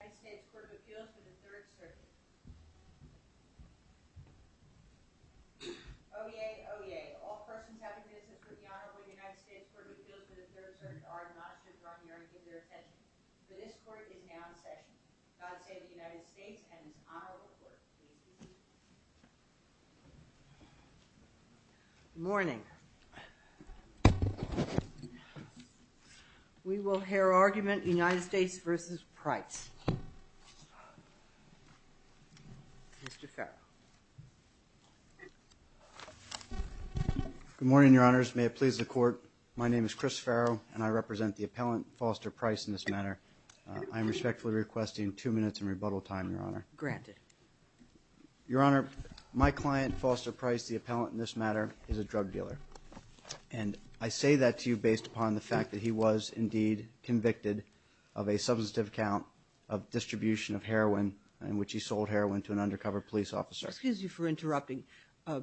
The United States Court of Appeals for the Third Circuit. Oyez, oyez. All persons having business with the Honorable United States Court of Appeals for the Third Circuit are admonished to draw near and give their attention. For this court is now in session. God save the United States and its Honorable Court. Good morning. We will hear argument United States v. Price. Mr. Farrow. Good morning, Your Honors. May it please the Court, my name is Chris Farrow and I represent the appellant, Foster Price, in this matter. I am respectfully requesting two minutes in rebuttal time, Your Honor. Granted. Your Honor, my client, Foster Price, the appellant in this matter, is a drug dealer. And I say that to you based upon the fact that he was indeed convicted of a substantive account of distribution of heroin in which he sold heroin to an undercover police officer. Excuse you for interrupting,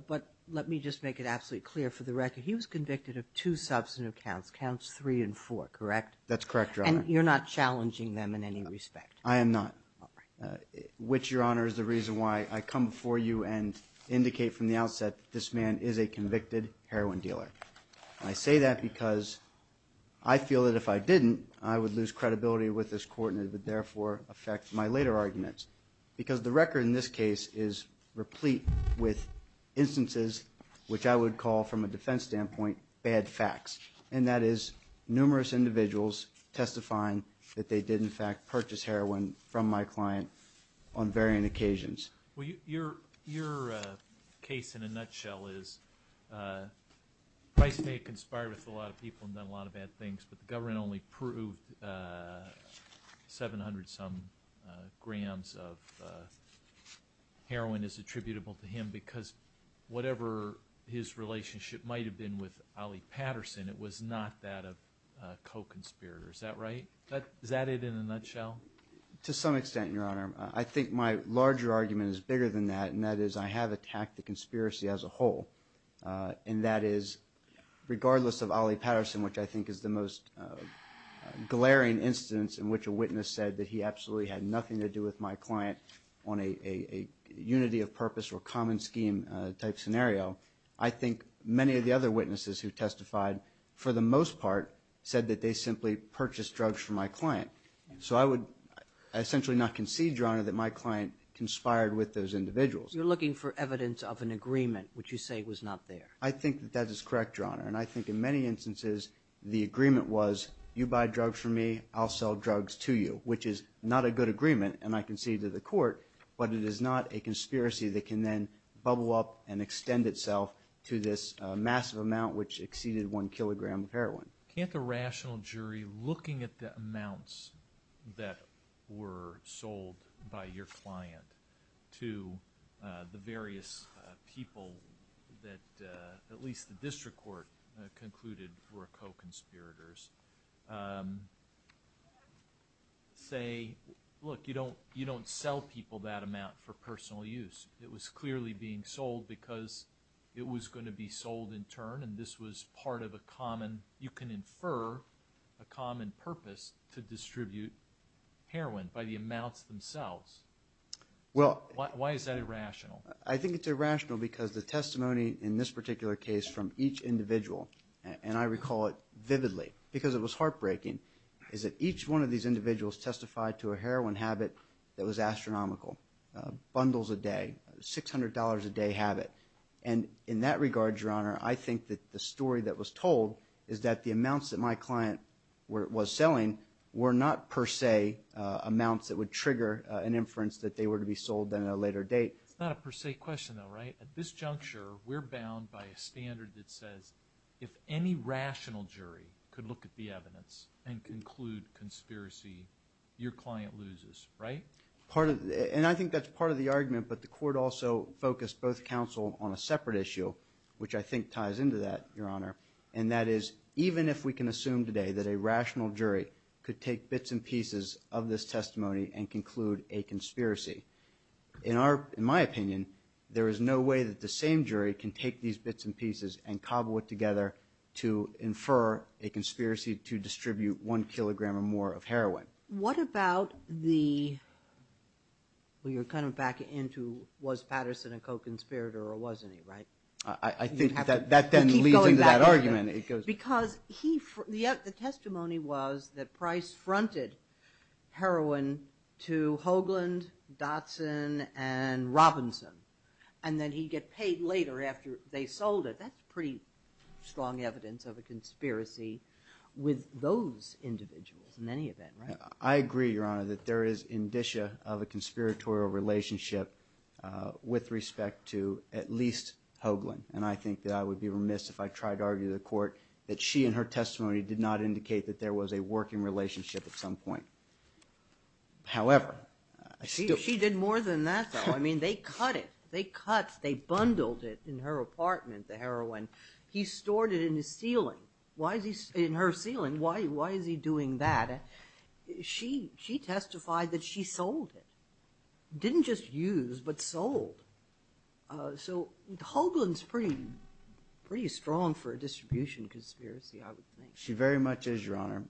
but let me just make it absolutely clear for the record. He was convicted of two substantive accounts, counts three and four, correct? That's correct, Your Honor. And you're not challenging them in any respect? I am not. All right. Which, Your Honor, is the reason why I come before you and indicate from the outset that this man is a convicted heroin dealer. And I say that because I feel that if I didn't, I would lose credibility with this Court and it would therefore affect my later arguments. Because the record in this case is replete with instances which I would call, from a defense standpoint, bad facts. And that is numerous individuals testifying that they did, in fact, purchase heroin from my client on varying occasions. Well, your case, in a nutshell, is Price may have conspired with a lot of people and done a lot of bad things, but the government only proved 700-some grams of heroin is attributable to him because whatever his relationship might have been with Ali Patterson, it was not that of a co-conspirator. Is that right? Is that it in a nutshell? To some extent, Your Honor. I think my larger argument is bigger than that, and that is I have attacked the conspiracy as a whole. And that is, regardless of Ali Patterson, which I think is the most glaring instance in which a witness said that he absolutely had nothing to do with my client on a unity of purpose or common scheme type scenario, I think many of the other witnesses who testified, for the most part, said that they simply purchased drugs from my client. So I would essentially not concede, Your Honor, that my client conspired with those individuals. You're looking for evidence of an agreement, which you say was not there. I think that that is correct, Your Honor. And I think in many instances the agreement was, you buy drugs from me, I'll sell drugs to you, which is not a good agreement, and I concede to the court, but it is not a conspiracy that can then bubble up and extend itself to this massive amount, which exceeded one kilogram of heroin. Can't the rational jury, looking at the amounts that were sold by your client to the various people that, at least the district court concluded were co-conspirators, say, look, you don't sell people that amount for personal use. It was clearly being sold because it was going to be sold in turn, and this was part of a common, you can infer a common purpose to distribute heroin by the amounts themselves. Why is that irrational? I think it's irrational because the testimony in this particular case from each individual, and I recall it vividly because it was heartbreaking, is that each one of these individuals testified to a heroin habit that was astronomical, bundles a day, $600 a day habit. And in that regard, Your Honor, I think that the story that was told is that the amounts that my client was selling were not per se amounts that would trigger an inference that they were to be sold at a later date. It's not a per se question though, right? At this juncture, we're bound by a standard that says, if any rational jury could look at the evidence and conclude conspiracy, your client loses, right? And I think that's part of the argument, but the court also focused both counsel on a separate issue, which I think ties into that, Your Honor, and that is, even if we can assume today that a rational jury could take bits and pieces of this testimony and conclude a conspiracy, in my opinion, there is no way that the same jury can take these bits and pieces and cobble it together to infer a conspiracy to distribute one kilogram or more of heroin. What about the – well, you're kind of back into was Patterson a co-conspirator or wasn't he, right? I think that then leads into that argument. Because he – the testimony was that Price fronted heroin to Hoagland, Dotson, and Robinson, and then he'd get paid later after they sold it. That's pretty strong evidence of a conspiracy with those individuals in any event, right? I agree, Your Honor, that there is indicia of a conspiratorial relationship with respect to at least Hoagland, and I think that I would be remiss if I tried to argue to the court that she and her testimony did not indicate that there was a working relationship at some point. However, I still – She did more than that, though. I mean, they cut it. They cut – they bundled it in her apartment, the heroin. He stored it in his ceiling. Why is he – in her ceiling, why is he doing that? She testified that she sold it. Didn't just use, but sold. So Hoagland's pretty strong for a distribution conspiracy, I would think. She very much is, Your Honor.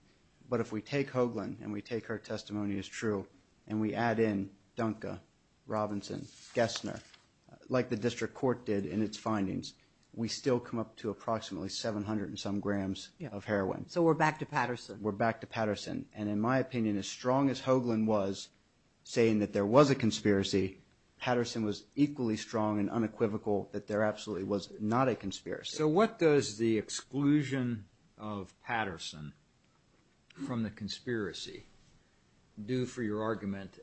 But if we take Hoagland and we take her testimony as true and we add in Dunker, Robinson, Gessner, like the district court did in its findings, we still come up to approximately 700 and some grams of heroin. So we're back to Patterson. We're back to Patterson. And in my opinion, as strong as Hoagland was saying that there was a conspiracy, Patterson was equally strong and unequivocal that there absolutely was not a conspiracy. So what does the exclusion of Patterson from the conspiracy do for your argument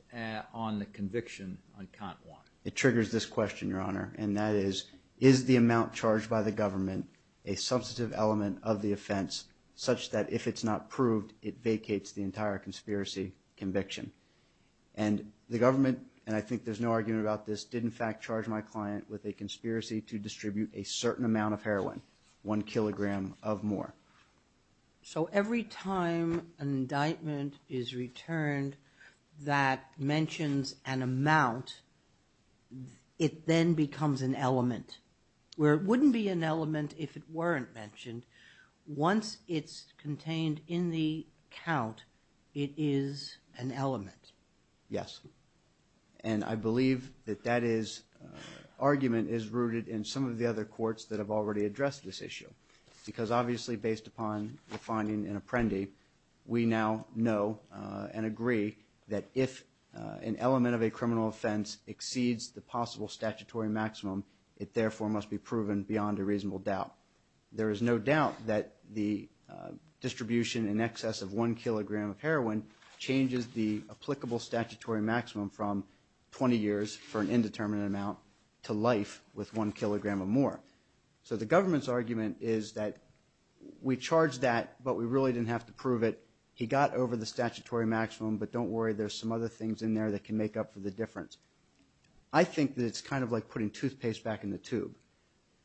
on the conviction on count one? It triggers this question, Your Honor, and that is, is the amount charged by the government a substantive element of the offense such that if it's not proved, it vacates the entire conspiracy conviction? And the government, and I think there's no argument about this, did in fact charge my client with a conspiracy to distribute a certain amount of heroin, one kilogram of more. So every time an indictment is returned that mentions an amount, it then becomes an element, where it wouldn't be an element if it weren't mentioned. Once it's contained in the count, it is an element. Yes. And I believe that that argument is rooted in some of the other courts that have already addressed this issue, because obviously based upon the finding in Apprendi, we now know and agree that if an element of a criminal offense exceeds the possible statutory maximum, it therefore must be proven beyond a reasonable doubt. There is no doubt that the distribution in excess of one kilogram of heroin changes the applicable statutory maximum from 20 years for an indeterminate amount to life with one kilogram or more. So the government's argument is that we charged that, but we really didn't have to prove it. He got over the statutory maximum, but don't worry, there's some other things in there that can make up for the difference. I think that it's kind of like putting toothpaste back in the tube.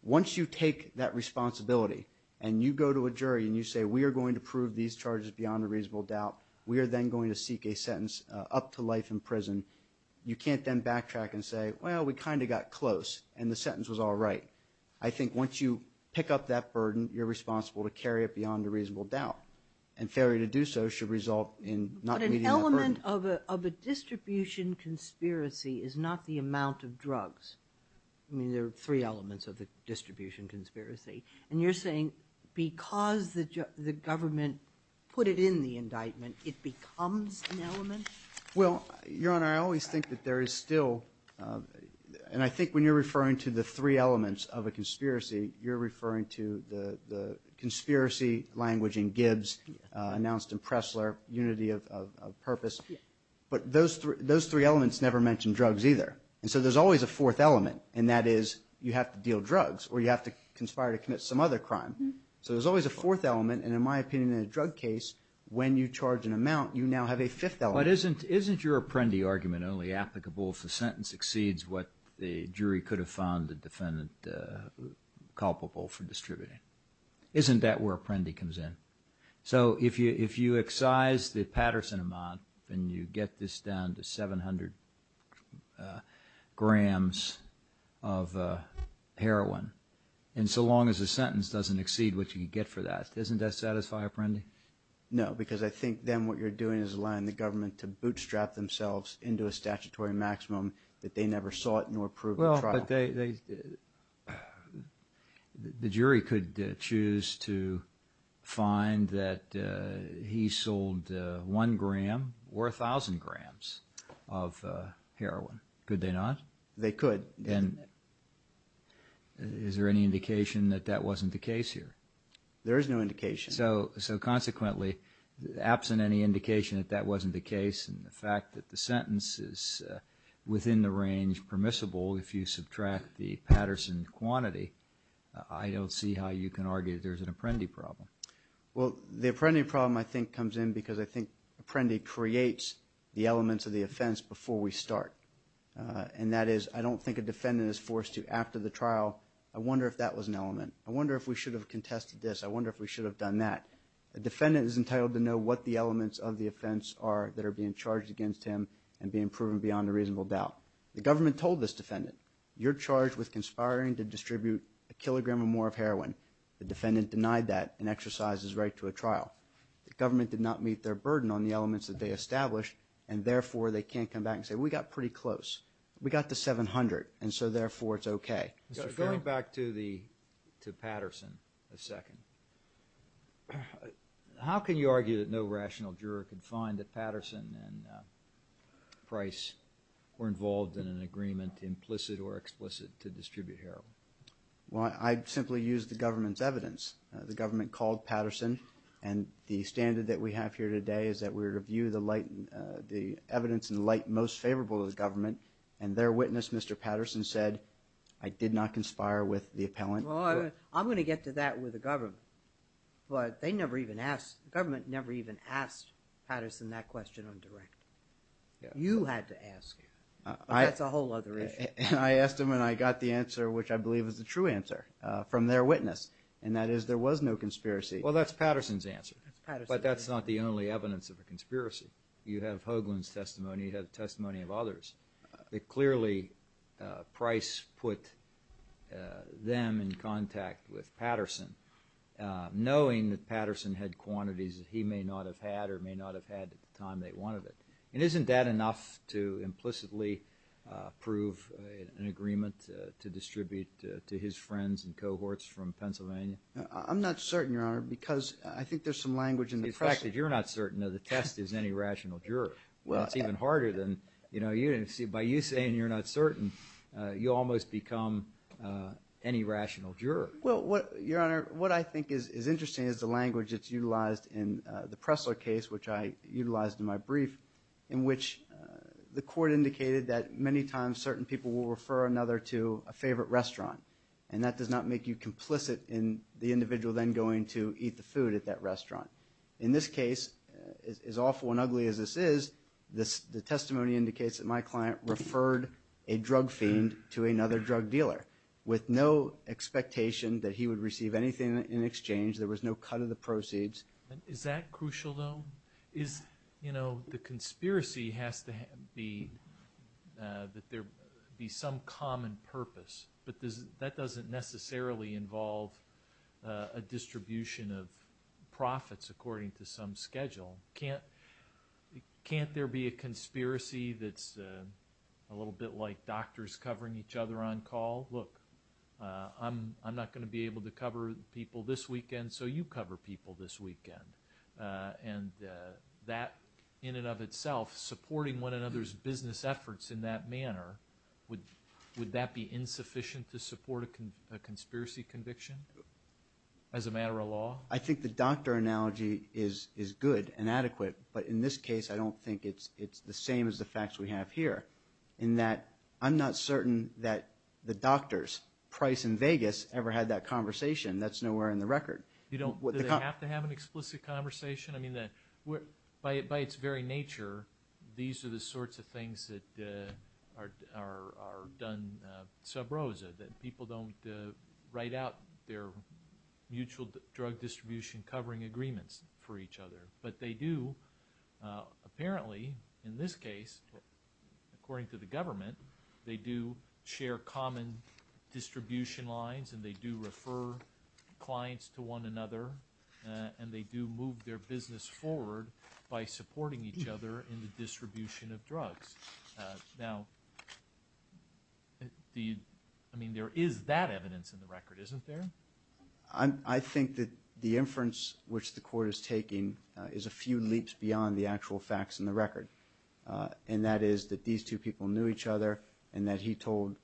Once you take that responsibility and you go to a jury and you say, we are going to prove these charges beyond a reasonable doubt, we are then going to seek a sentence up to life in prison, you can't then backtrack and say, well, we kind of got close and the sentence was all right. I think once you pick up that burden, you're responsible to carry it beyond a reasonable doubt, and failure to do so should result in not meeting that burden. I mean, there are three elements of the distribution conspiracy. And you're saying because the government put it in the indictment, it becomes an element? Well, Your Honor, I always think that there is still, and I think when you're referring to the three elements of a conspiracy, you're referring to the conspiracy language in Gibbs announced in Pressler, unity of purpose. But those three elements never mention drugs either. And so there's always a fourth element, and that is you have to deal drugs, or you have to conspire to commit some other crime. So there's always a fourth element, and in my opinion, in a drug case, when you charge an amount, you now have a fifth element. But isn't your Apprendi argument only applicable if the sentence exceeds what the jury could have found the defendant culpable for distributing? Isn't that where Apprendi comes in? So if you excise the Patterson amount and you get this down to 700 grams of heroin, and so long as the sentence doesn't exceed what you get for that, doesn't that satisfy Apprendi? No, because I think then what you're doing is allowing the government to bootstrap themselves into a statutory maximum that they never sought nor proved at trial. But the jury could choose to find that he sold 1 gram or 1,000 grams of heroin. Could they not? They could. And is there any indication that that wasn't the case here? There is no indication. So consequently, absent any indication that that wasn't the case, and the fact that the sentence is within the range permissible if you subtract the Patterson quantity, I don't see how you can argue there's an Apprendi problem. Well, the Apprendi problem, I think, comes in because I think Apprendi creates the elements of the offense before we start. And that is, I don't think a defendant is forced to, after the trial, I wonder if that was an element. I wonder if we should have contested this. I wonder if we should have done that. A defendant is entitled to know what the elements of the offense are that are being charged against him and being proven beyond a reasonable doubt. The government told this defendant, you're charged with conspiring to distribute a kilogram or more of heroin. The defendant denied that and exercises right to a trial. The government did not meet their burden on the elements that they established, and therefore they can't come back and say, we got pretty close. We got to 700, and so therefore it's okay. Going back to Patterson a second, how can you argue that no rational juror could find that Patterson and Price were involved in an agreement, implicit or explicit, to distribute heroin? Well, I'd simply use the government's evidence. The government called Patterson, and the standard that we have here today is that we review the evidence in light most favorable to the government, and their witness, Mr. Patterson, said, I did not conspire with the appellant. I'm going to get to that with the government, but the government never even asked Patterson that question on direct. You had to ask him. That's a whole other issue. I asked him, and I got the answer, which I believe is the true answer from their witness, and that is there was no conspiracy. Well, that's Patterson's answer, but that's not the only evidence of a conspiracy. You have Hoagland's testimony. You have testimony of others that clearly Price put them in contact with Patterson, knowing that Patterson had quantities that he may not have had or may not have had at the time they wanted it. And isn't that enough to implicitly prove an agreement to distribute to his friends and cohorts from Pennsylvania? I'm not certain, Your Honor, because I think there's some language in the question. You said you're not certain of the test is any rational juror. It's even harder than, you know, by you saying you're not certain, you almost become any rational juror. Well, Your Honor, what I think is interesting is the language that's utilized in the Pressler case, which I utilized in my brief, in which the court indicated that many times certain people will refer another to a favorite restaurant, and that does not make you complicit in the individual then going to eat the food at that restaurant. In this case, as awful and ugly as this is, the testimony indicates that my client referred a drug fiend to another drug dealer with no expectation that he would receive anything in exchange. There was no cut of the proceeds. Is that crucial, though? You know, the conspiracy has to be that there be some common purpose, but that doesn't necessarily involve a distribution of profits according to some schedule. Can't there be a conspiracy that's a little bit like doctors covering each other on call? Look, I'm not going to be able to cover people this weekend, so you cover people this weekend. And that in and of itself, supporting one another's business efforts in that manner, would that be insufficient to support a conspiracy conviction as a matter of law? I think the doctor analogy is good and adequate, but in this case I don't think it's the same as the facts we have here, in that I'm not certain that the doctors, Price and Vegas, ever had that conversation. That's nowhere in the record. Do they have to have an explicit conversation? I mean, by its very nature, these are the sorts of things that are done sub rosa, that people don't write out their mutual drug distribution covering agreements for each other. But they do, apparently, in this case, according to the government, they do share common distribution lines and they do refer clients to one another and they do move their business forward by supporting each other in the distribution of drugs. Now, I mean, there is that evidence in the record, isn't there? I think that the inference which the court is taking is a few leaps beyond the actual facts in the record, and that is that these two people knew each other and that he told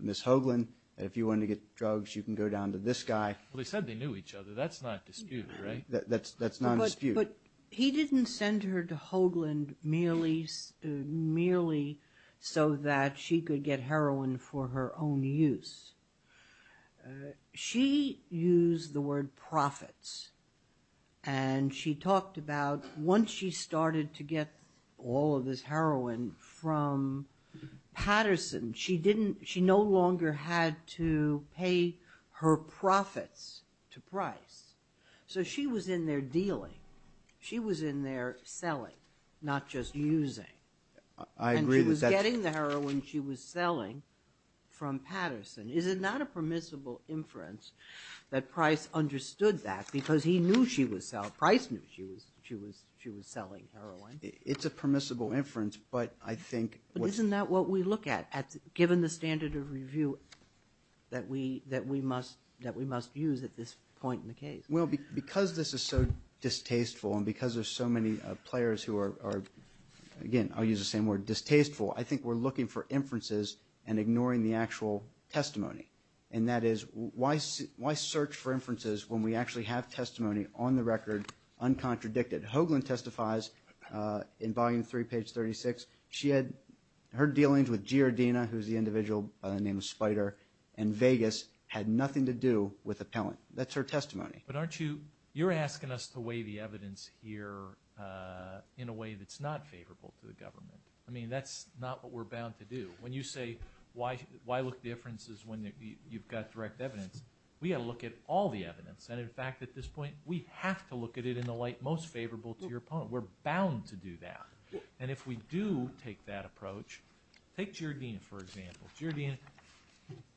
Ms. Hoagland that if you wanted to get drugs, you can go down to this guy. Well, they said they knew each other, that's not disputed, right? That's not disputed. But he didn't send her to Hoagland merely so that she could get heroin for her own use. She used the word profits and she talked about once she started to get all of this heroin from Patterson, she no longer had to pay her profits to Price. So she was in there dealing. She was in there selling, not just using. I agree with that. And she was getting the heroin she was selling from Patterson. Is it not a permissible inference that Price understood that because he knew she was selling heroin? It's a permissible inference, but I think… Isn't that what we look at, given the standard of review that we must use at this point in the case? Well, because this is so distasteful and because there are so many players who are, again, I'll use the same word, distasteful, I think we're looking for inferences and ignoring the actual testimony, and that is why search for inferences when we actually have testimony on the record, uncontradicted? Hoagland testifies in Volume 3, page 36. She had her dealings with Giardina, who's the individual by the name of Spider, and Vegas had nothing to do with Appellant. That's her testimony. But aren't you – you're asking us to weigh the evidence here in a way that's not favorable to the government. I mean, that's not what we're bound to do. When you say why look at inferences when you've got direct evidence, we've got to look at all the evidence. And, in fact, at this point, we have to look at it in the light most favorable to your opponent. We're bound to do that. And if we do take that approach, take Giardina, for example. Giardina,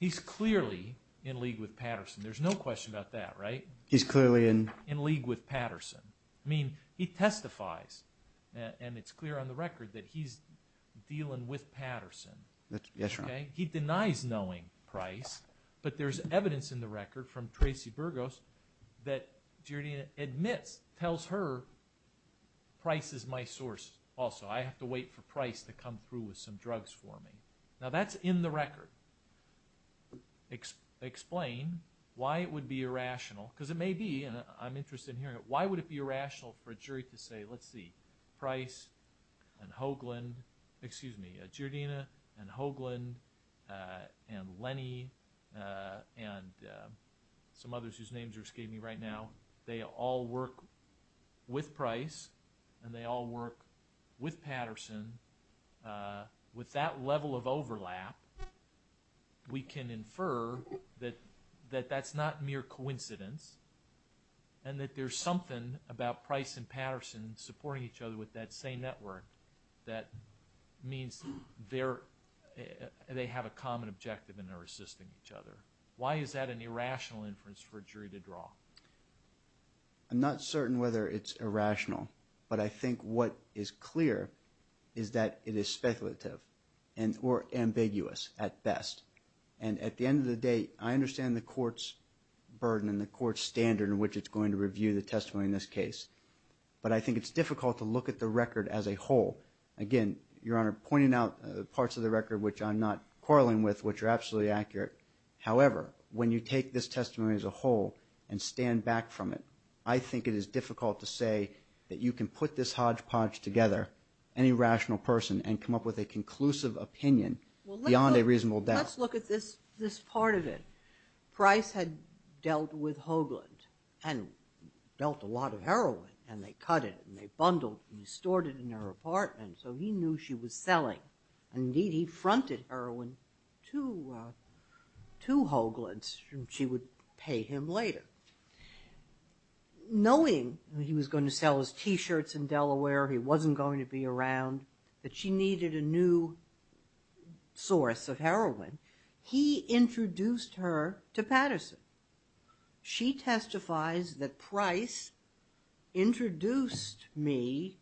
he's clearly in league with Patterson. There's no question about that, right? He's clearly in? In league with Patterson. I mean, he testifies, and it's clear on the record that he's dealing with Patterson. That's right. He denies knowing Price, but there's evidence in the record from Tracy Burgos that Giardina admits, tells her Price is my source also. I have to wait for Price to come through with some drugs for me. Now, that's in the record. Explain why it would be irrational, because it may be, and I'm interested in hearing it. Why would it be irrational for a jury to say, let's see, Price and Hoagland, excuse me, Giardina and Hoagland and Lenny and some others whose names are escaping me right now, they all work with Price and they all work with Patterson. With that level of overlap, we can infer that that's not mere coincidence and that there's something about Price and Patterson supporting each other with that same network that means they have a common objective and they're assisting each other. Why is that an irrational inference for a jury to draw? I'm not certain whether it's irrational, but I think what is clear is that it is speculative or ambiguous at best. And at the end of the day, I understand the court's burden and the court's standard in which it's going to review the testimony in this case, but I think it's difficult to look at the record as a whole. Again, Your Honor, pointing out parts of the record which I'm not quarreling with, which are absolutely accurate. However, when you take this testimony as a whole and stand back from it, I think it is difficult to say that you can put this hodgepodge together, any rational person, and come up with a conclusive opinion beyond a reasonable doubt. Let's look at this part of it. Price had dealt with Hoagland and dealt a lot of heroin, and they cut it and they bundled and stored it in her apartment, so he knew she was selling. Indeed, he fronted heroin to Hoagland. She would pay him later. Knowing that he was going to sell his T-shirts in Delaware, he wasn't going to be around, that she needed a new source of heroin, he introduced her to Patterson. She testifies that Price introduced me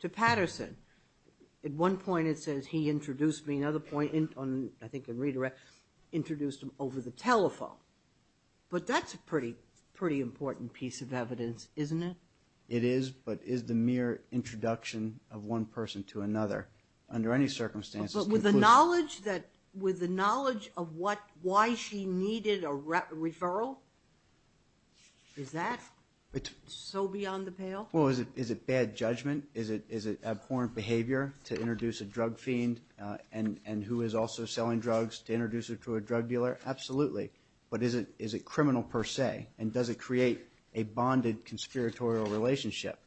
to Patterson. At one point it says he introduced me. Another point, I think in redirect, introduced him over the telephone. But that's a pretty important piece of evidence, isn't it? It is, but it is the mere introduction of one person to another under any circumstances. But with the knowledge of why she needed a referral, is that so beyond the pale? Well, is it bad judgment? Is it abhorrent behavior to introduce a drug fiend and who is also selling drugs to introduce her to a drug dealer? Absolutely, but is it criminal per se, and does it create a bonded conspiratorial relationship?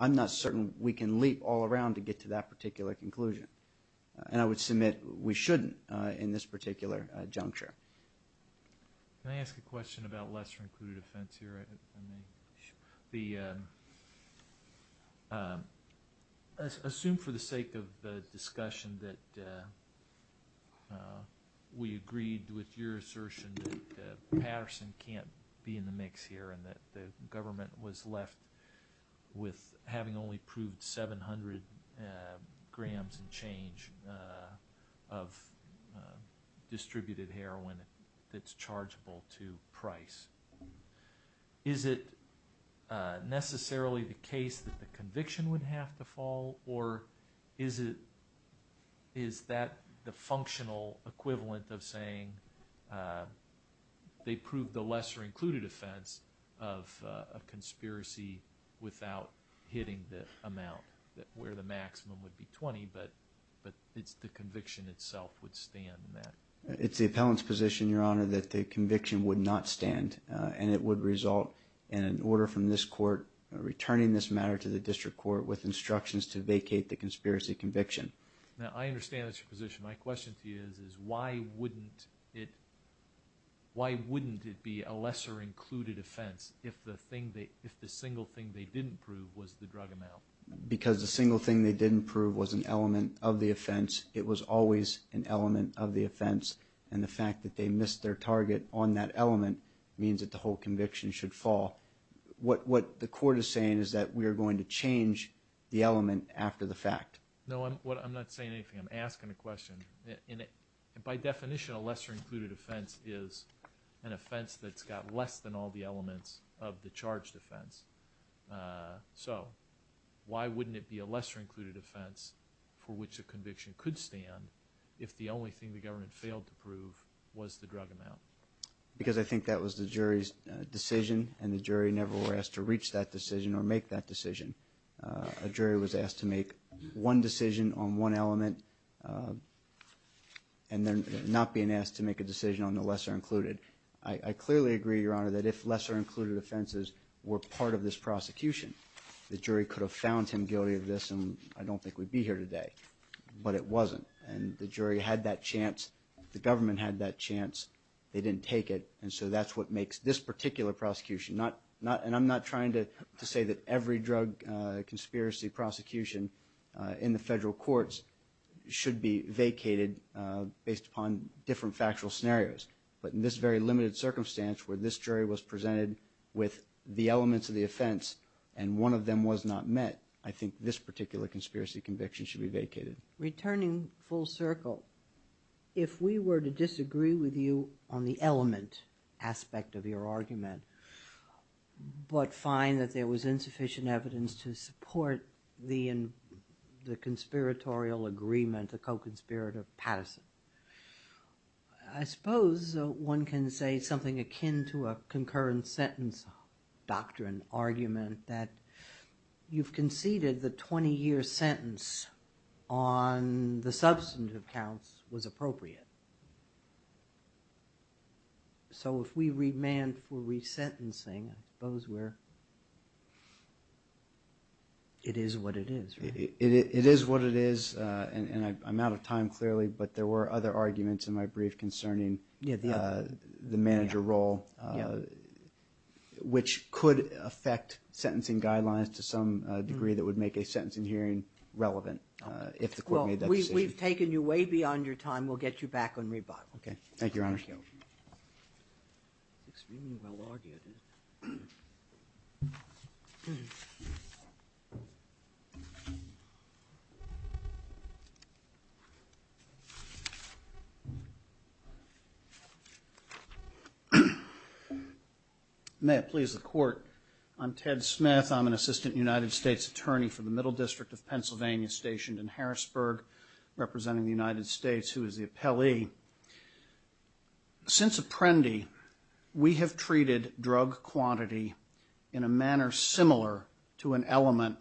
I'm not certain we can leap all around to get to that particular conclusion, and I would submit we shouldn't in this particular juncture. Can I ask a question about lesser-included offense here? Assume for the sake of the discussion that we agreed with your assertion that Patterson can't be in the mix here and that the government was left with having only proved 700 grams and change of distributed heroin that's chargeable to price. Is it necessarily the case that the conviction would have to fall, or is that the functional equivalent of saying they proved the lesser-included offense of a conspiracy without hitting the amount where the maximum would be 20, but the conviction itself would stand in that? It's the appellant's position, Your Honor, that the conviction would not stand, and it would result in an order from this court returning this matter to the district court with instructions to vacate the conspiracy conviction. Now, I understand that's your position. My question to you is why wouldn't it be a lesser-included offense if the single thing they didn't prove was the drug amount? Because the single thing they didn't prove was an element of the offense. It was always an element of the offense, and the fact that they missed their target on that element means that the whole conviction should fall. What the court is saying is that we are going to change the element after the fact. No, I'm not saying anything. I'm asking a question. By definition, a lesser-included offense is an offense that's got less than all the elements of the charged offense. So why wouldn't it be a lesser-included offense for which a conviction could stand if the only thing the government failed to prove was the drug amount? Because I think that was the jury's decision, and the jury never were asked to reach that decision or make that decision. A jury was asked to make one decision on one element and then not being asked to make a decision on the lesser-included. I clearly agree, Your Honor, that if lesser-included offenses were part of this prosecution, the jury could have found him guilty of this, and I don't think we'd be here today. But it wasn't, and the jury had that chance. The government had that chance. They didn't take it, and so that's what makes this particular prosecution not, and I'm not trying to say that every drug conspiracy prosecution in the federal courts should be vacated based upon different factual scenarios. But in this very limited circumstance where this jury was presented with the elements of the offense and one of them was not met, I think this particular conspiracy conviction should be vacated. Returning full circle, if we were to disagree with you on the element aspect of your argument but find that there was insufficient evidence to support the conspiratorial agreement, the co-conspirator Patterson, I suppose one can say something akin to a concurrent sentence doctrine argument that you've conceded the 20-year sentence on the substantive counts was appropriate. So if we remand for resentencing, I suppose we're, it is what it is, right? It is what it is, and I'm out of time clearly, but there were other arguments in my brief concerning the manager role, which could affect sentencing guidelines to some degree that would make a sentencing hearing relevant if the court made that decision. Well, we've taken you way beyond your time. We'll get you back on rebuttal. Okay. Thank you, Your Honor. Thank you. May it please the Court. I'm Ted Smith. I'm an assistant United States attorney for the Middle District of Pennsylvania stationed in Harrisburg, representing the United States, who is the appellee. Since Apprendi, we have treated drug quantity in a manner similar to an element,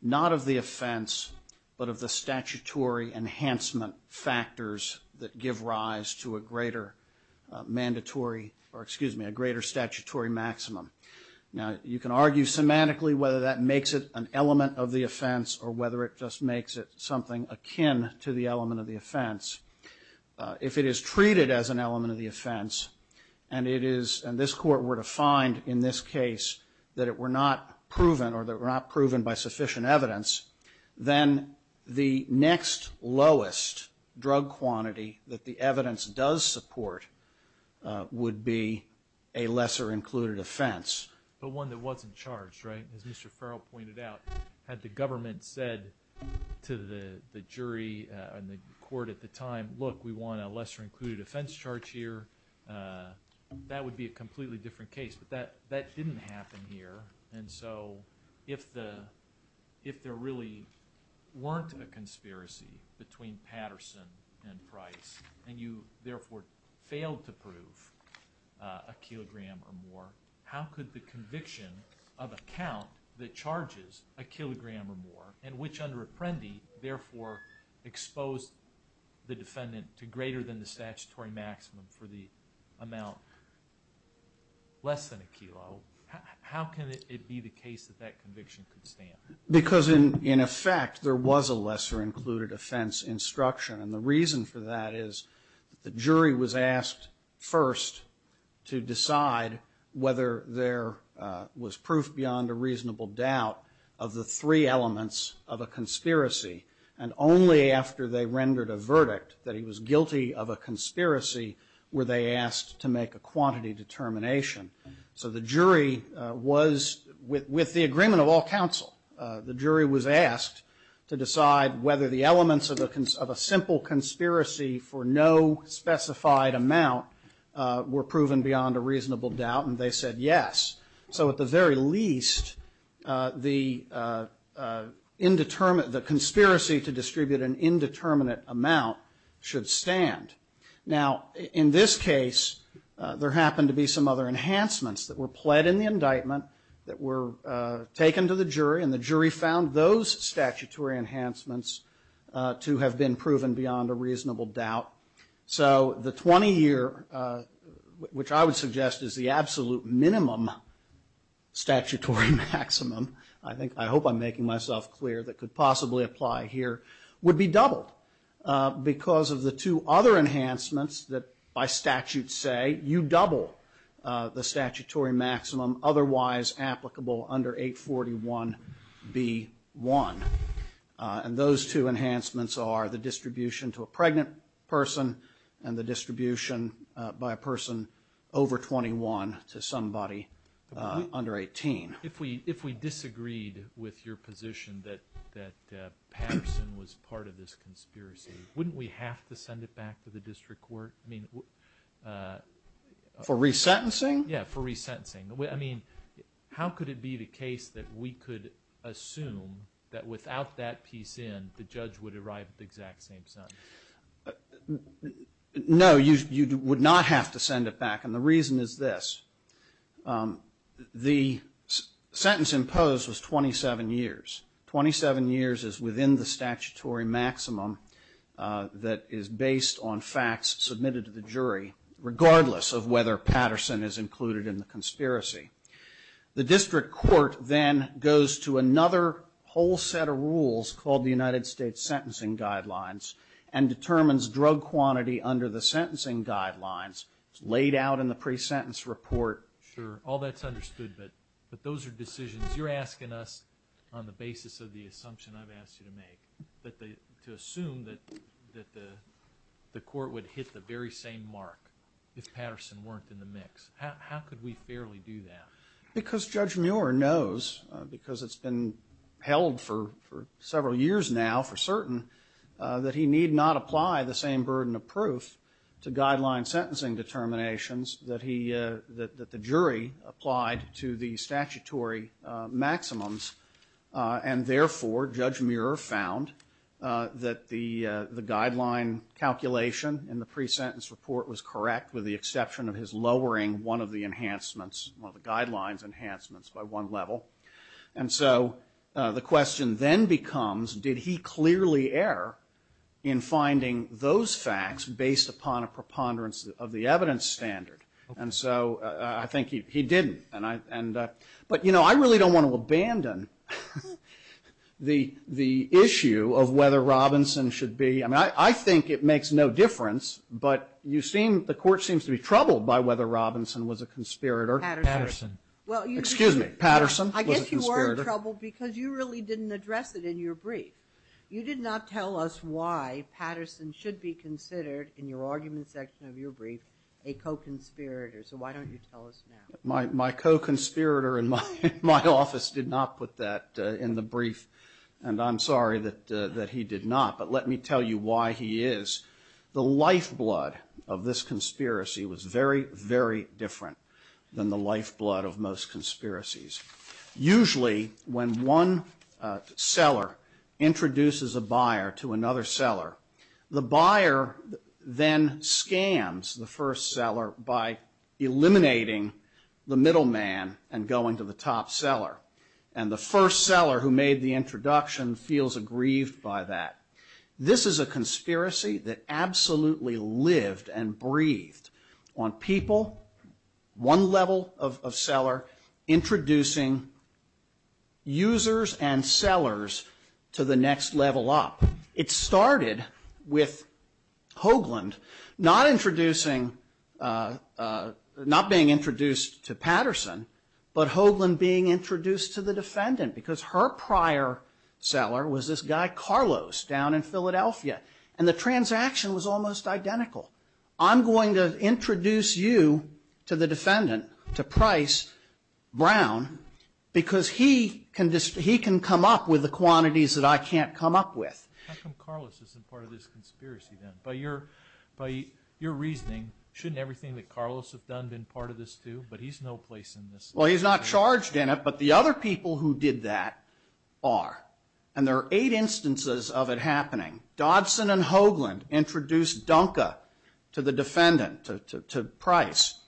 not of the offense, but of the statutory enhancement factors that give rise to a greater mandatory, or excuse me, a greater statutory maximum. Now, you can argue semantically whether that makes it an element of the offense or whether it just makes it something akin to the element of the offense. If it is treated as an element of the offense and this Court were to find in this case that it were not proven or that it were not proven by sufficient evidence, then the next lowest drug quantity that the evidence does support would be a lesser included offense. But one that wasn't charged, right? As Mr. Farrell pointed out, had the government said to the jury and the Court at the time, look, we want a lesser included offense charge here, that would be a completely different case. But that didn't happen here. And so, if there really weren't a conspiracy between Patterson and Price and you, therefore, failed to prove a kilogram or more, how could the conviction of a count that charges a kilogram or more and which under Apprendi, therefore, exposed the defendant to greater than the statutory maximum for the amount less than a kilo, how can it be the case that that conviction could stand? Because in effect, there was a lesser included offense instruction. And the reason for that is that the jury was asked first to decide whether there was proof beyond a reasonable doubt of the three elements of a conspiracy. And only after they rendered a verdict that he was guilty of a conspiracy were they asked to make a quantity determination. So the jury was, with the agreement of all counsel, the jury was asked to decide whether the elements of a simple conspiracy for no specified amount were proven beyond a reasonable doubt. And they said yes. So at the very least, the indeterminate, the conspiracy to distribute an indeterminate amount should stand. Now, in this case, there happened to be some other enhancements that were pled in the indictment that were taken to the jury. And the jury found those statutory enhancements to have been proven beyond a reasonable doubt. So the 20-year, which I would suggest is the absolute minimum statutory maximum, I hope I'm making myself clear that could possibly apply here, would be doubled because of the two other enhancements that by statute say you double the statutory maximum otherwise applicable under 841B1. And those two enhancements are the distribution to a pregnant person and the distribution by a person over 21 to somebody under 18. If we disagreed with your position that Patterson was part of this conspiracy, wouldn't we have to send it back to the district court? For resentencing? Yeah, for resentencing. I mean, how could it be the case that we could assume that without that piece in, the judge would arrive at the exact same sentence? No, you would not have to send it back. And the reason is this. The sentence imposed was 27 years. Twenty-seven years is within the statutory maximum that is based on facts submitted to the jury, regardless of whether Patterson is included in the conspiracy. The district court then goes to another whole set of rules called the United States Sentencing Guidelines and determines drug quantity under the sentencing guidelines. It's laid out in the pre-sentence report. Sure, all that's understood, but those are decisions. You're asking us on the basis of the assumption I've asked you to make to assume that the court would hit the very same mark if Patterson weren't in the mix. How could we fairly do that? Because Judge Muir knows, because it's been held for several years now for certain, that he need not apply the same burden of proof to guideline sentencing determinations that the jury applied to the statutory maximums, and therefore Judge Muir found that the guideline calculation in the pre-sentence report was correct with the exception of his lowering one of the enhancements, one of the guidelines enhancements by one level. And so the question then becomes, did he clearly err in finding those facts based upon a preponderance of the evidence standard? And so I think he didn't. But I really don't want to abandon the issue of whether Robinson should be... I mean, I think it makes no difference, but the court seems to be troubled by whether Robinson was a conspirator. Patterson. Excuse me, Patterson was a conspirator. I guess you were in trouble because you really didn't address it in your brief. You did not tell us why Patterson should be considered, in your argument section of your brief, a co-conspirator. So why don't you tell us now? My co-conspirator in my office did not put that in the brief, and I'm sorry that he did not, but let me tell you why he is. The lifeblood of this conspiracy was very, very different than the lifeblood of most conspiracies. Usually when one seller introduces a buyer to another seller, the buyer then scams the first seller by eliminating the middleman and going to the top seller, and the first seller who made the introduction feels aggrieved by that. This is a conspiracy that absolutely lived and breathed on people, one level of seller, introducing users and sellers to the next level up. It started with Hoagland not being introduced to Patterson, but Hoagland being introduced to the defendant because her prior seller was this guy Carlos down in Philadelphia, and the transaction was almost identical. I'm going to introduce you to the defendant, to Price, Brown, because he can come up with the quantities that I can't come up with. How come Carlos isn't part of this conspiracy then? By your reasoning, shouldn't everything that Carlos has done been part of this too? But he's no place in this. Well, he's not charged in it, but the other people who did that are, and there are eight instances of it happening. Dodson and Hoagland introduced Dunka to the defendant, to Price.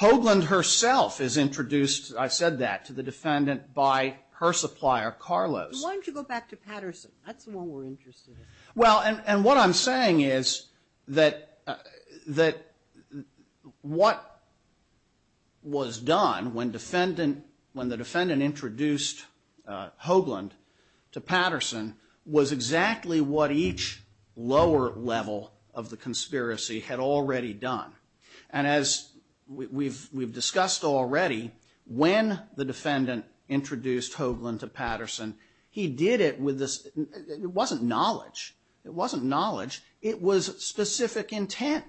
Hoagland herself is introduced, I said that, to the defendant by her supplier, Carlos. Why don't you go back to Patterson? That's the one we're interested in. Well, and what I'm saying is that what was done when the defendant introduced Hoagland to Patterson was exactly what each lower level of the conspiracy had already done. And as we've discussed already, when the defendant introduced Hoagland to Patterson, he did it with this, it wasn't knowledge. It wasn't knowledge. It was specific intent.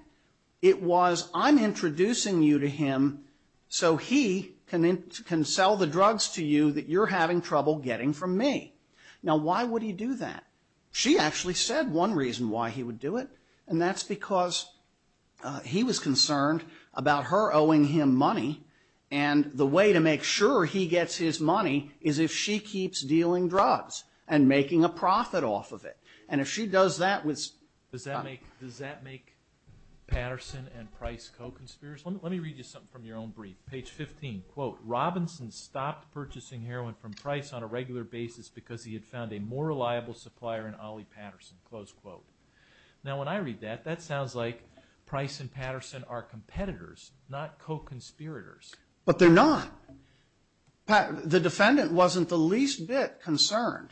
It was, I'm introducing you to him so he can sell the drugs to you that you're having trouble getting from me. Now, why would he do that? She actually said one reason why he would do it, and that's because he was concerned about her owing him money, and the way to make sure he gets his money is if she keeps dealing drugs and making a profit off of it. And if she does that with... Does that make Patterson and Price co-conspirators? Let me read you something from your own brief. Page 15, quote, Robinson stopped purchasing heroin from Price on a regular basis because he had found a more reliable supplier in Ollie Patterson, close quote. Now, when I read that, that sounds like Price and Patterson are competitors, not co-conspirators. But they're not. The defendant wasn't the least bit concerned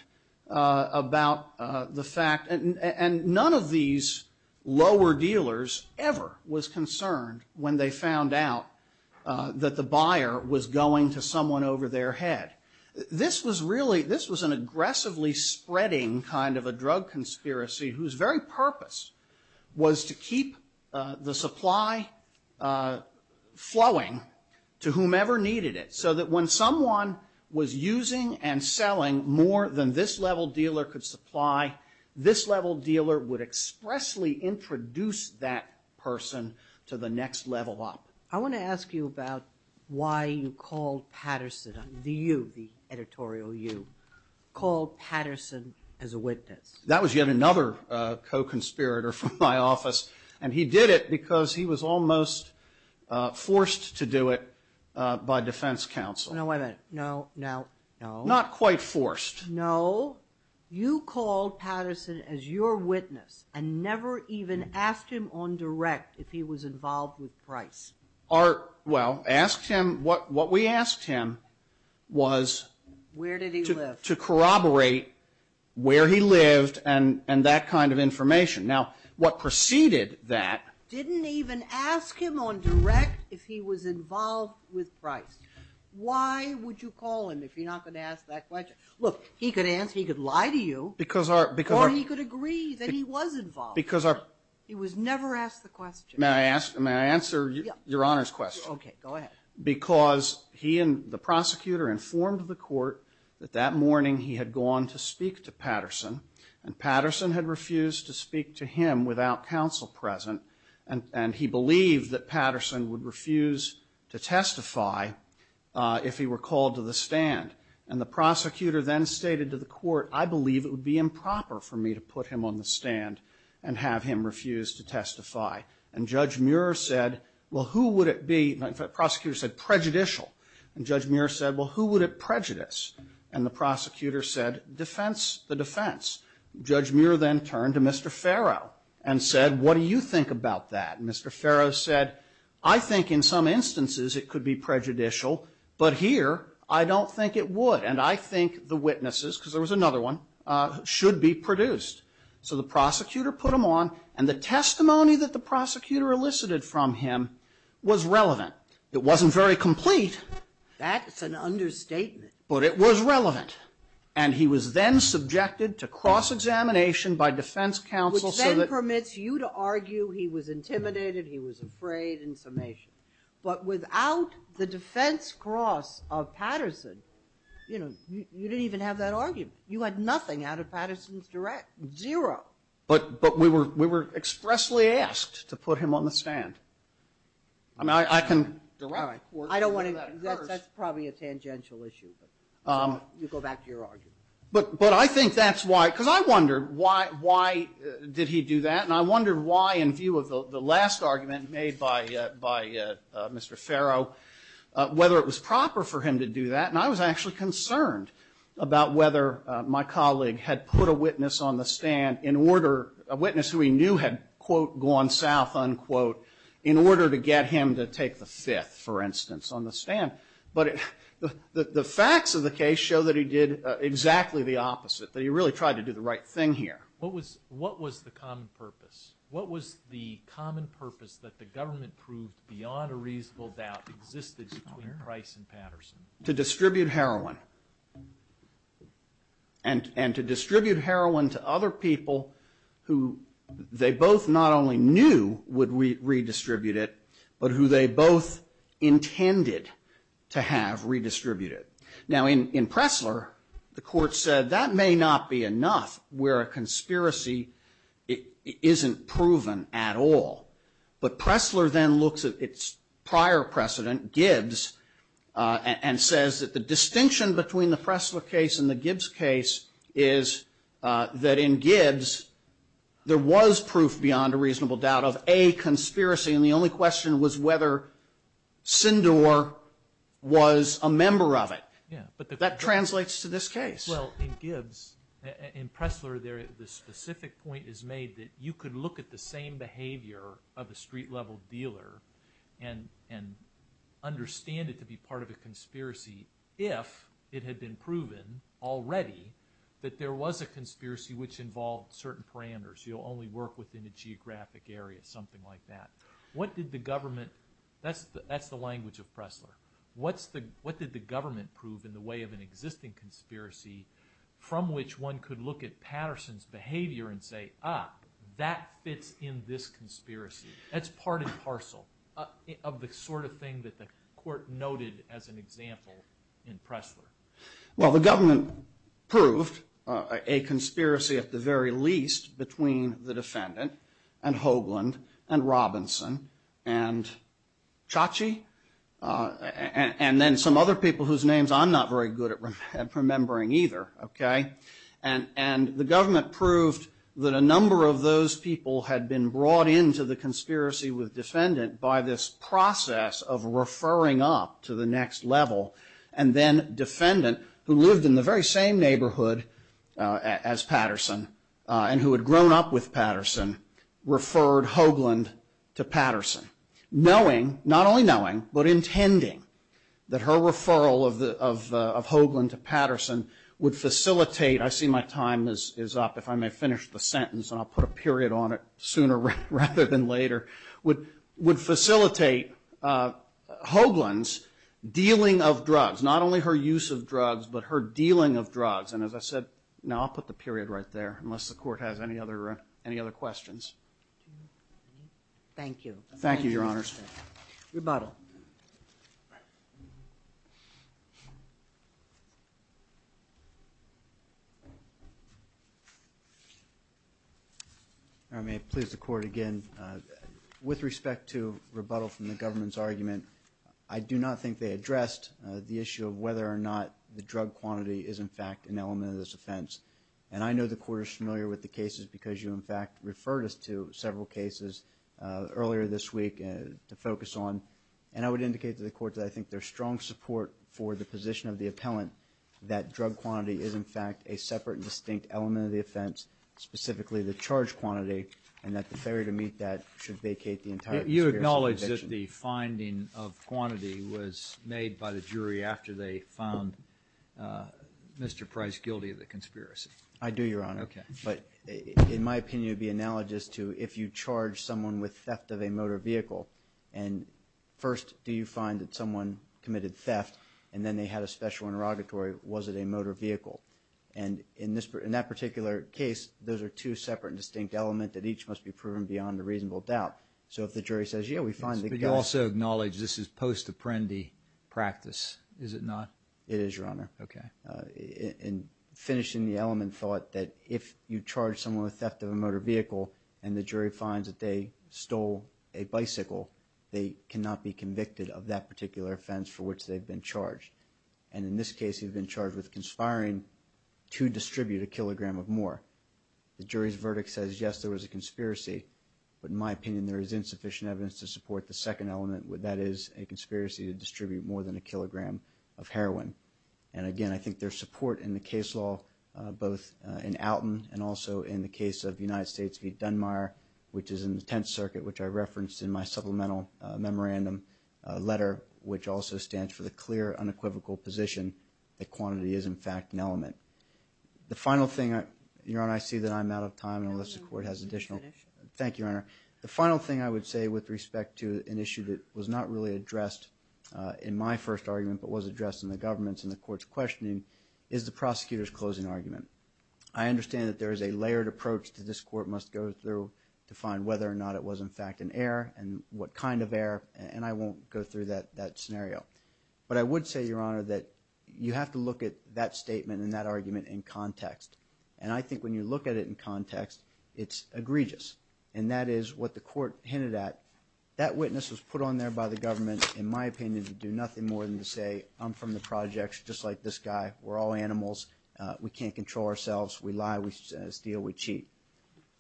about the fact, and none of these lower dealers ever was concerned when they found out that the buyer was going to someone over their head. This was really, this was an aggressively spreading kind of a drug conspiracy whose very purpose was to keep the supply flowing to whomever needed it so that when someone was using and selling more than this level dealer could supply, this level dealer would expressly introduce that person to the next level up. I want to ask you about why you called Patterson, the you, the editorial you, called Patterson as a witness. That was yet another co-conspirator from my office, and he did it because he was almost forced to do it by defense counsel. No, wait a minute. No, no, no. Not quite forced. No. You called Patterson as your witness and never even asked him on direct if he was involved with Price. Our, well, asked him, what we asked him was to corroborate where he lived and that kind of information. Now, what preceded that. Didn't even ask him on direct if he was involved with Price. Why would you call him if you're not going to ask that question? Look, he could answer, he could lie to you. Because our, because our. Or he could agree that he was involved. Because our. He was never asked the question. May I ask, may I answer your Honor's question? Okay, go ahead. Because he and the prosecutor informed the court that that morning he had gone to speak to Patterson, and Patterson had refused to speak to him without counsel present, and he believed that Patterson would refuse to testify if he were called to the stand. And the prosecutor then stated to the court, I believe it would be improper for me to put him on the stand and have him refuse to testify. And Judge Muir said, well, who would it be, the prosecutor said, prejudicial. And Judge Muir said, well, who would it prejudice? And the prosecutor said, defense, the defense. Judge Muir then turned to Mr. Farrow and said, what do you think about that? And Mr. Farrow said, I think in some instances it could be prejudicial, but here I don't think it would. And I think the witnesses, because there was another one, should be produced. So the prosecutor put him on, and the testimony that the prosecutor elicited from him was relevant. It wasn't very complete. That's an understatement. But it was relevant. And he was then subjected to cross-examination by defense counsel so that Which then permits you to argue he was intimidated, he was afraid, in summation. But without the defense cross of Patterson, you know, you didn't even have that argument. You had nothing out of Patterson's direct, zero. But we were expressly asked to put him on the stand. I mean, I can direct court to do that at first. That's probably a tangential issue. You go back to your argument. But I think that's why, because I wondered, why did he do that? And I wondered why, in view of the last argument made by Mr. Farrow, whether it was proper for him to do that. And I was actually concerned about whether my colleague had put a witness on the order, a witness who he knew had, quote, gone south, unquote, in order to get him to take the fifth, for instance, on the stand. But the facts of the case show that he did exactly the opposite, that he really tried to do the right thing here. What was the common purpose? What was the common purpose that the government proved beyond a reasonable doubt existed between Price and Patterson? To distribute heroin. And to distribute heroin to other people who they both not only knew would redistribute it, but who they both intended to have redistributed it. Now, in Pressler, the court said that may not be enough where a conspiracy isn't proven at all. But Pressler then looks at its prior precedent, Gibbs, and says that the distinction between the Pressler case and the Gibbs case is that in Gibbs, there was proof beyond a reasonable doubt of a conspiracy, and the only question was whether Sindor was a member of it. That translates to this case. Well, in Gibbs, in Pressler, the specific point is made that you could look at the same behavior of a street-level dealer and understand it to be part of a conspiracy if it had been proven already that there was a conspiracy which involved certain parameters. You'll only work within a geographic area, something like that. What did the government – that's the language of Pressler. What did the government prove in the way of an existing conspiracy from which one could look at Patterson's behavior and say, ah, that fits in this conspiracy. That's part and parcel of the sort of thing that the court noted as an example in Pressler. Well, the government proved a conspiracy at the very least between the defendant and Hoagland and Robinson and Chachi and then some other people whose names I'm not very good at remembering either, okay. And the government proved that a number of those people had been brought into the conspiracy with defendant by this process of referring up to the next level and then defendant, who lived in the very same neighborhood as Patterson and who had grown up with Patterson, referred Hoagland to Patterson, knowing, not only knowing, but intending that her referral of Hoagland to Patterson would facilitate – I see my time is up. If I may finish the sentence and I'll put a period on it sooner rather than later – would facilitate Hoagland's dealing of drugs, not only her use of drugs, but her dealing of drugs. And as I said – no, I'll put the period right there unless the court has any other questions. Thank you. Thank you, Your Honors. Rebuttal. If I may please the court again. With respect to rebuttal from the government's argument, I do not think they addressed the issue of whether or not the drug quantity is in fact an element of this offense. And I know the court is familiar with the cases because you, in fact, referred us to several cases earlier this week to focus on. And I would indicate to the court that I think there's strong support for the position of the appellant that drug quantity is, in fact, a separate and distinct element of the offense, specifically the charge quantity, and that the failure to meet that should vacate the entire conspiracy. You acknowledge that the finding of quantity was made by the jury after they found Mr. Price guilty of the conspiracy? I do, Your Honor. Okay. But in my opinion, it would be analogous to if you charge someone with theft of a motor vehicle and first do you find that someone committed theft and then they had a special interrogatory, was it a motor vehicle? And in that particular case, those are two separate and distinct elements that each must be proven beyond a reasonable doubt. So if the jury says, yeah, we find the guy. But you also acknowledge this is post-apprendi practice, is it not? It is, Your Honor. Okay. In finishing the element thought that if you charge someone with theft of a motor vehicle and the jury finds that they stole a bicycle, they cannot be convicted of that particular offense for which they've been charged. And in this case, you've been charged with conspiring to distribute a kilogram of more. The jury's verdict says, yes, there was a conspiracy, but in my opinion there is insufficient evidence to support the second element, that is a conspiracy to distribute more than a kilogram of heroin. And again, I think there's support in the case law both in Alton and also in the case of United States v. Dunmire, which is in the Tenth Circuit, which I referenced in my supplemental memorandum letter, which also stands for the clear unequivocal position that quantity is, in fact, an element. The final thing, Your Honor, I see that I'm out of time. Thank you, Your Honor. The final thing I would say with respect to an issue that was not really addressed in my first argument but was addressed in the government's and the court's questioning is the prosecutor's closing argument. I understand that there is a layered approach that this court must go through to find whether or not it was, in fact, an error and what kind of error, and I won't go through that scenario. But I would say, Your Honor, that you have to look at that statement and that argument in context. And I think when you look at it in context, it's egregious. And that is what the court hinted at. That witness was put on there by the government, in my opinion, to do nothing more than to say, I'm from the projects just like this guy. We're all animals. We can't control ourselves. We lie. We steal. We cheat.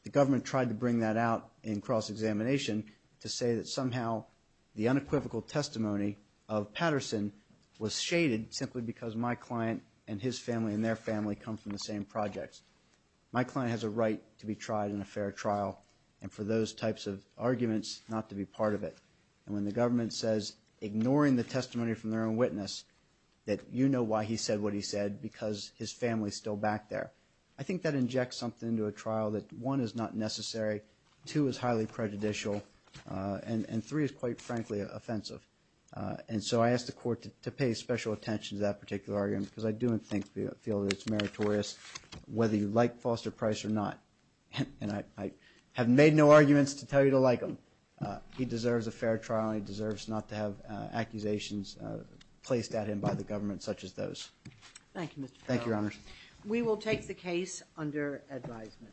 The government tried to bring that out in cross-examination to say that somehow the unequivocal testimony of Patterson was shaded simply because my client and his family and their family come from the same projects. My client has a right to be tried in a fair trial and for those types of arguments not to be part of it. And when the government says, ignoring the testimony from their own witness, that you know why he said what he said because his family is still back there, I think that injects something into a trial that, one, is not necessary, two, is highly prejudicial, and three, is quite frankly offensive. And so I ask the court to pay special attention to that particular argument because I do feel that it's meritorious whether you like Foster Price or not. And I have made no arguments to tell you to like him. He deserves a fair trial and he deserves not to have accusations placed at him by the government such as those. Thank you, Mr. Farrell. Thank you, Your Honors. We will take the case under advisement.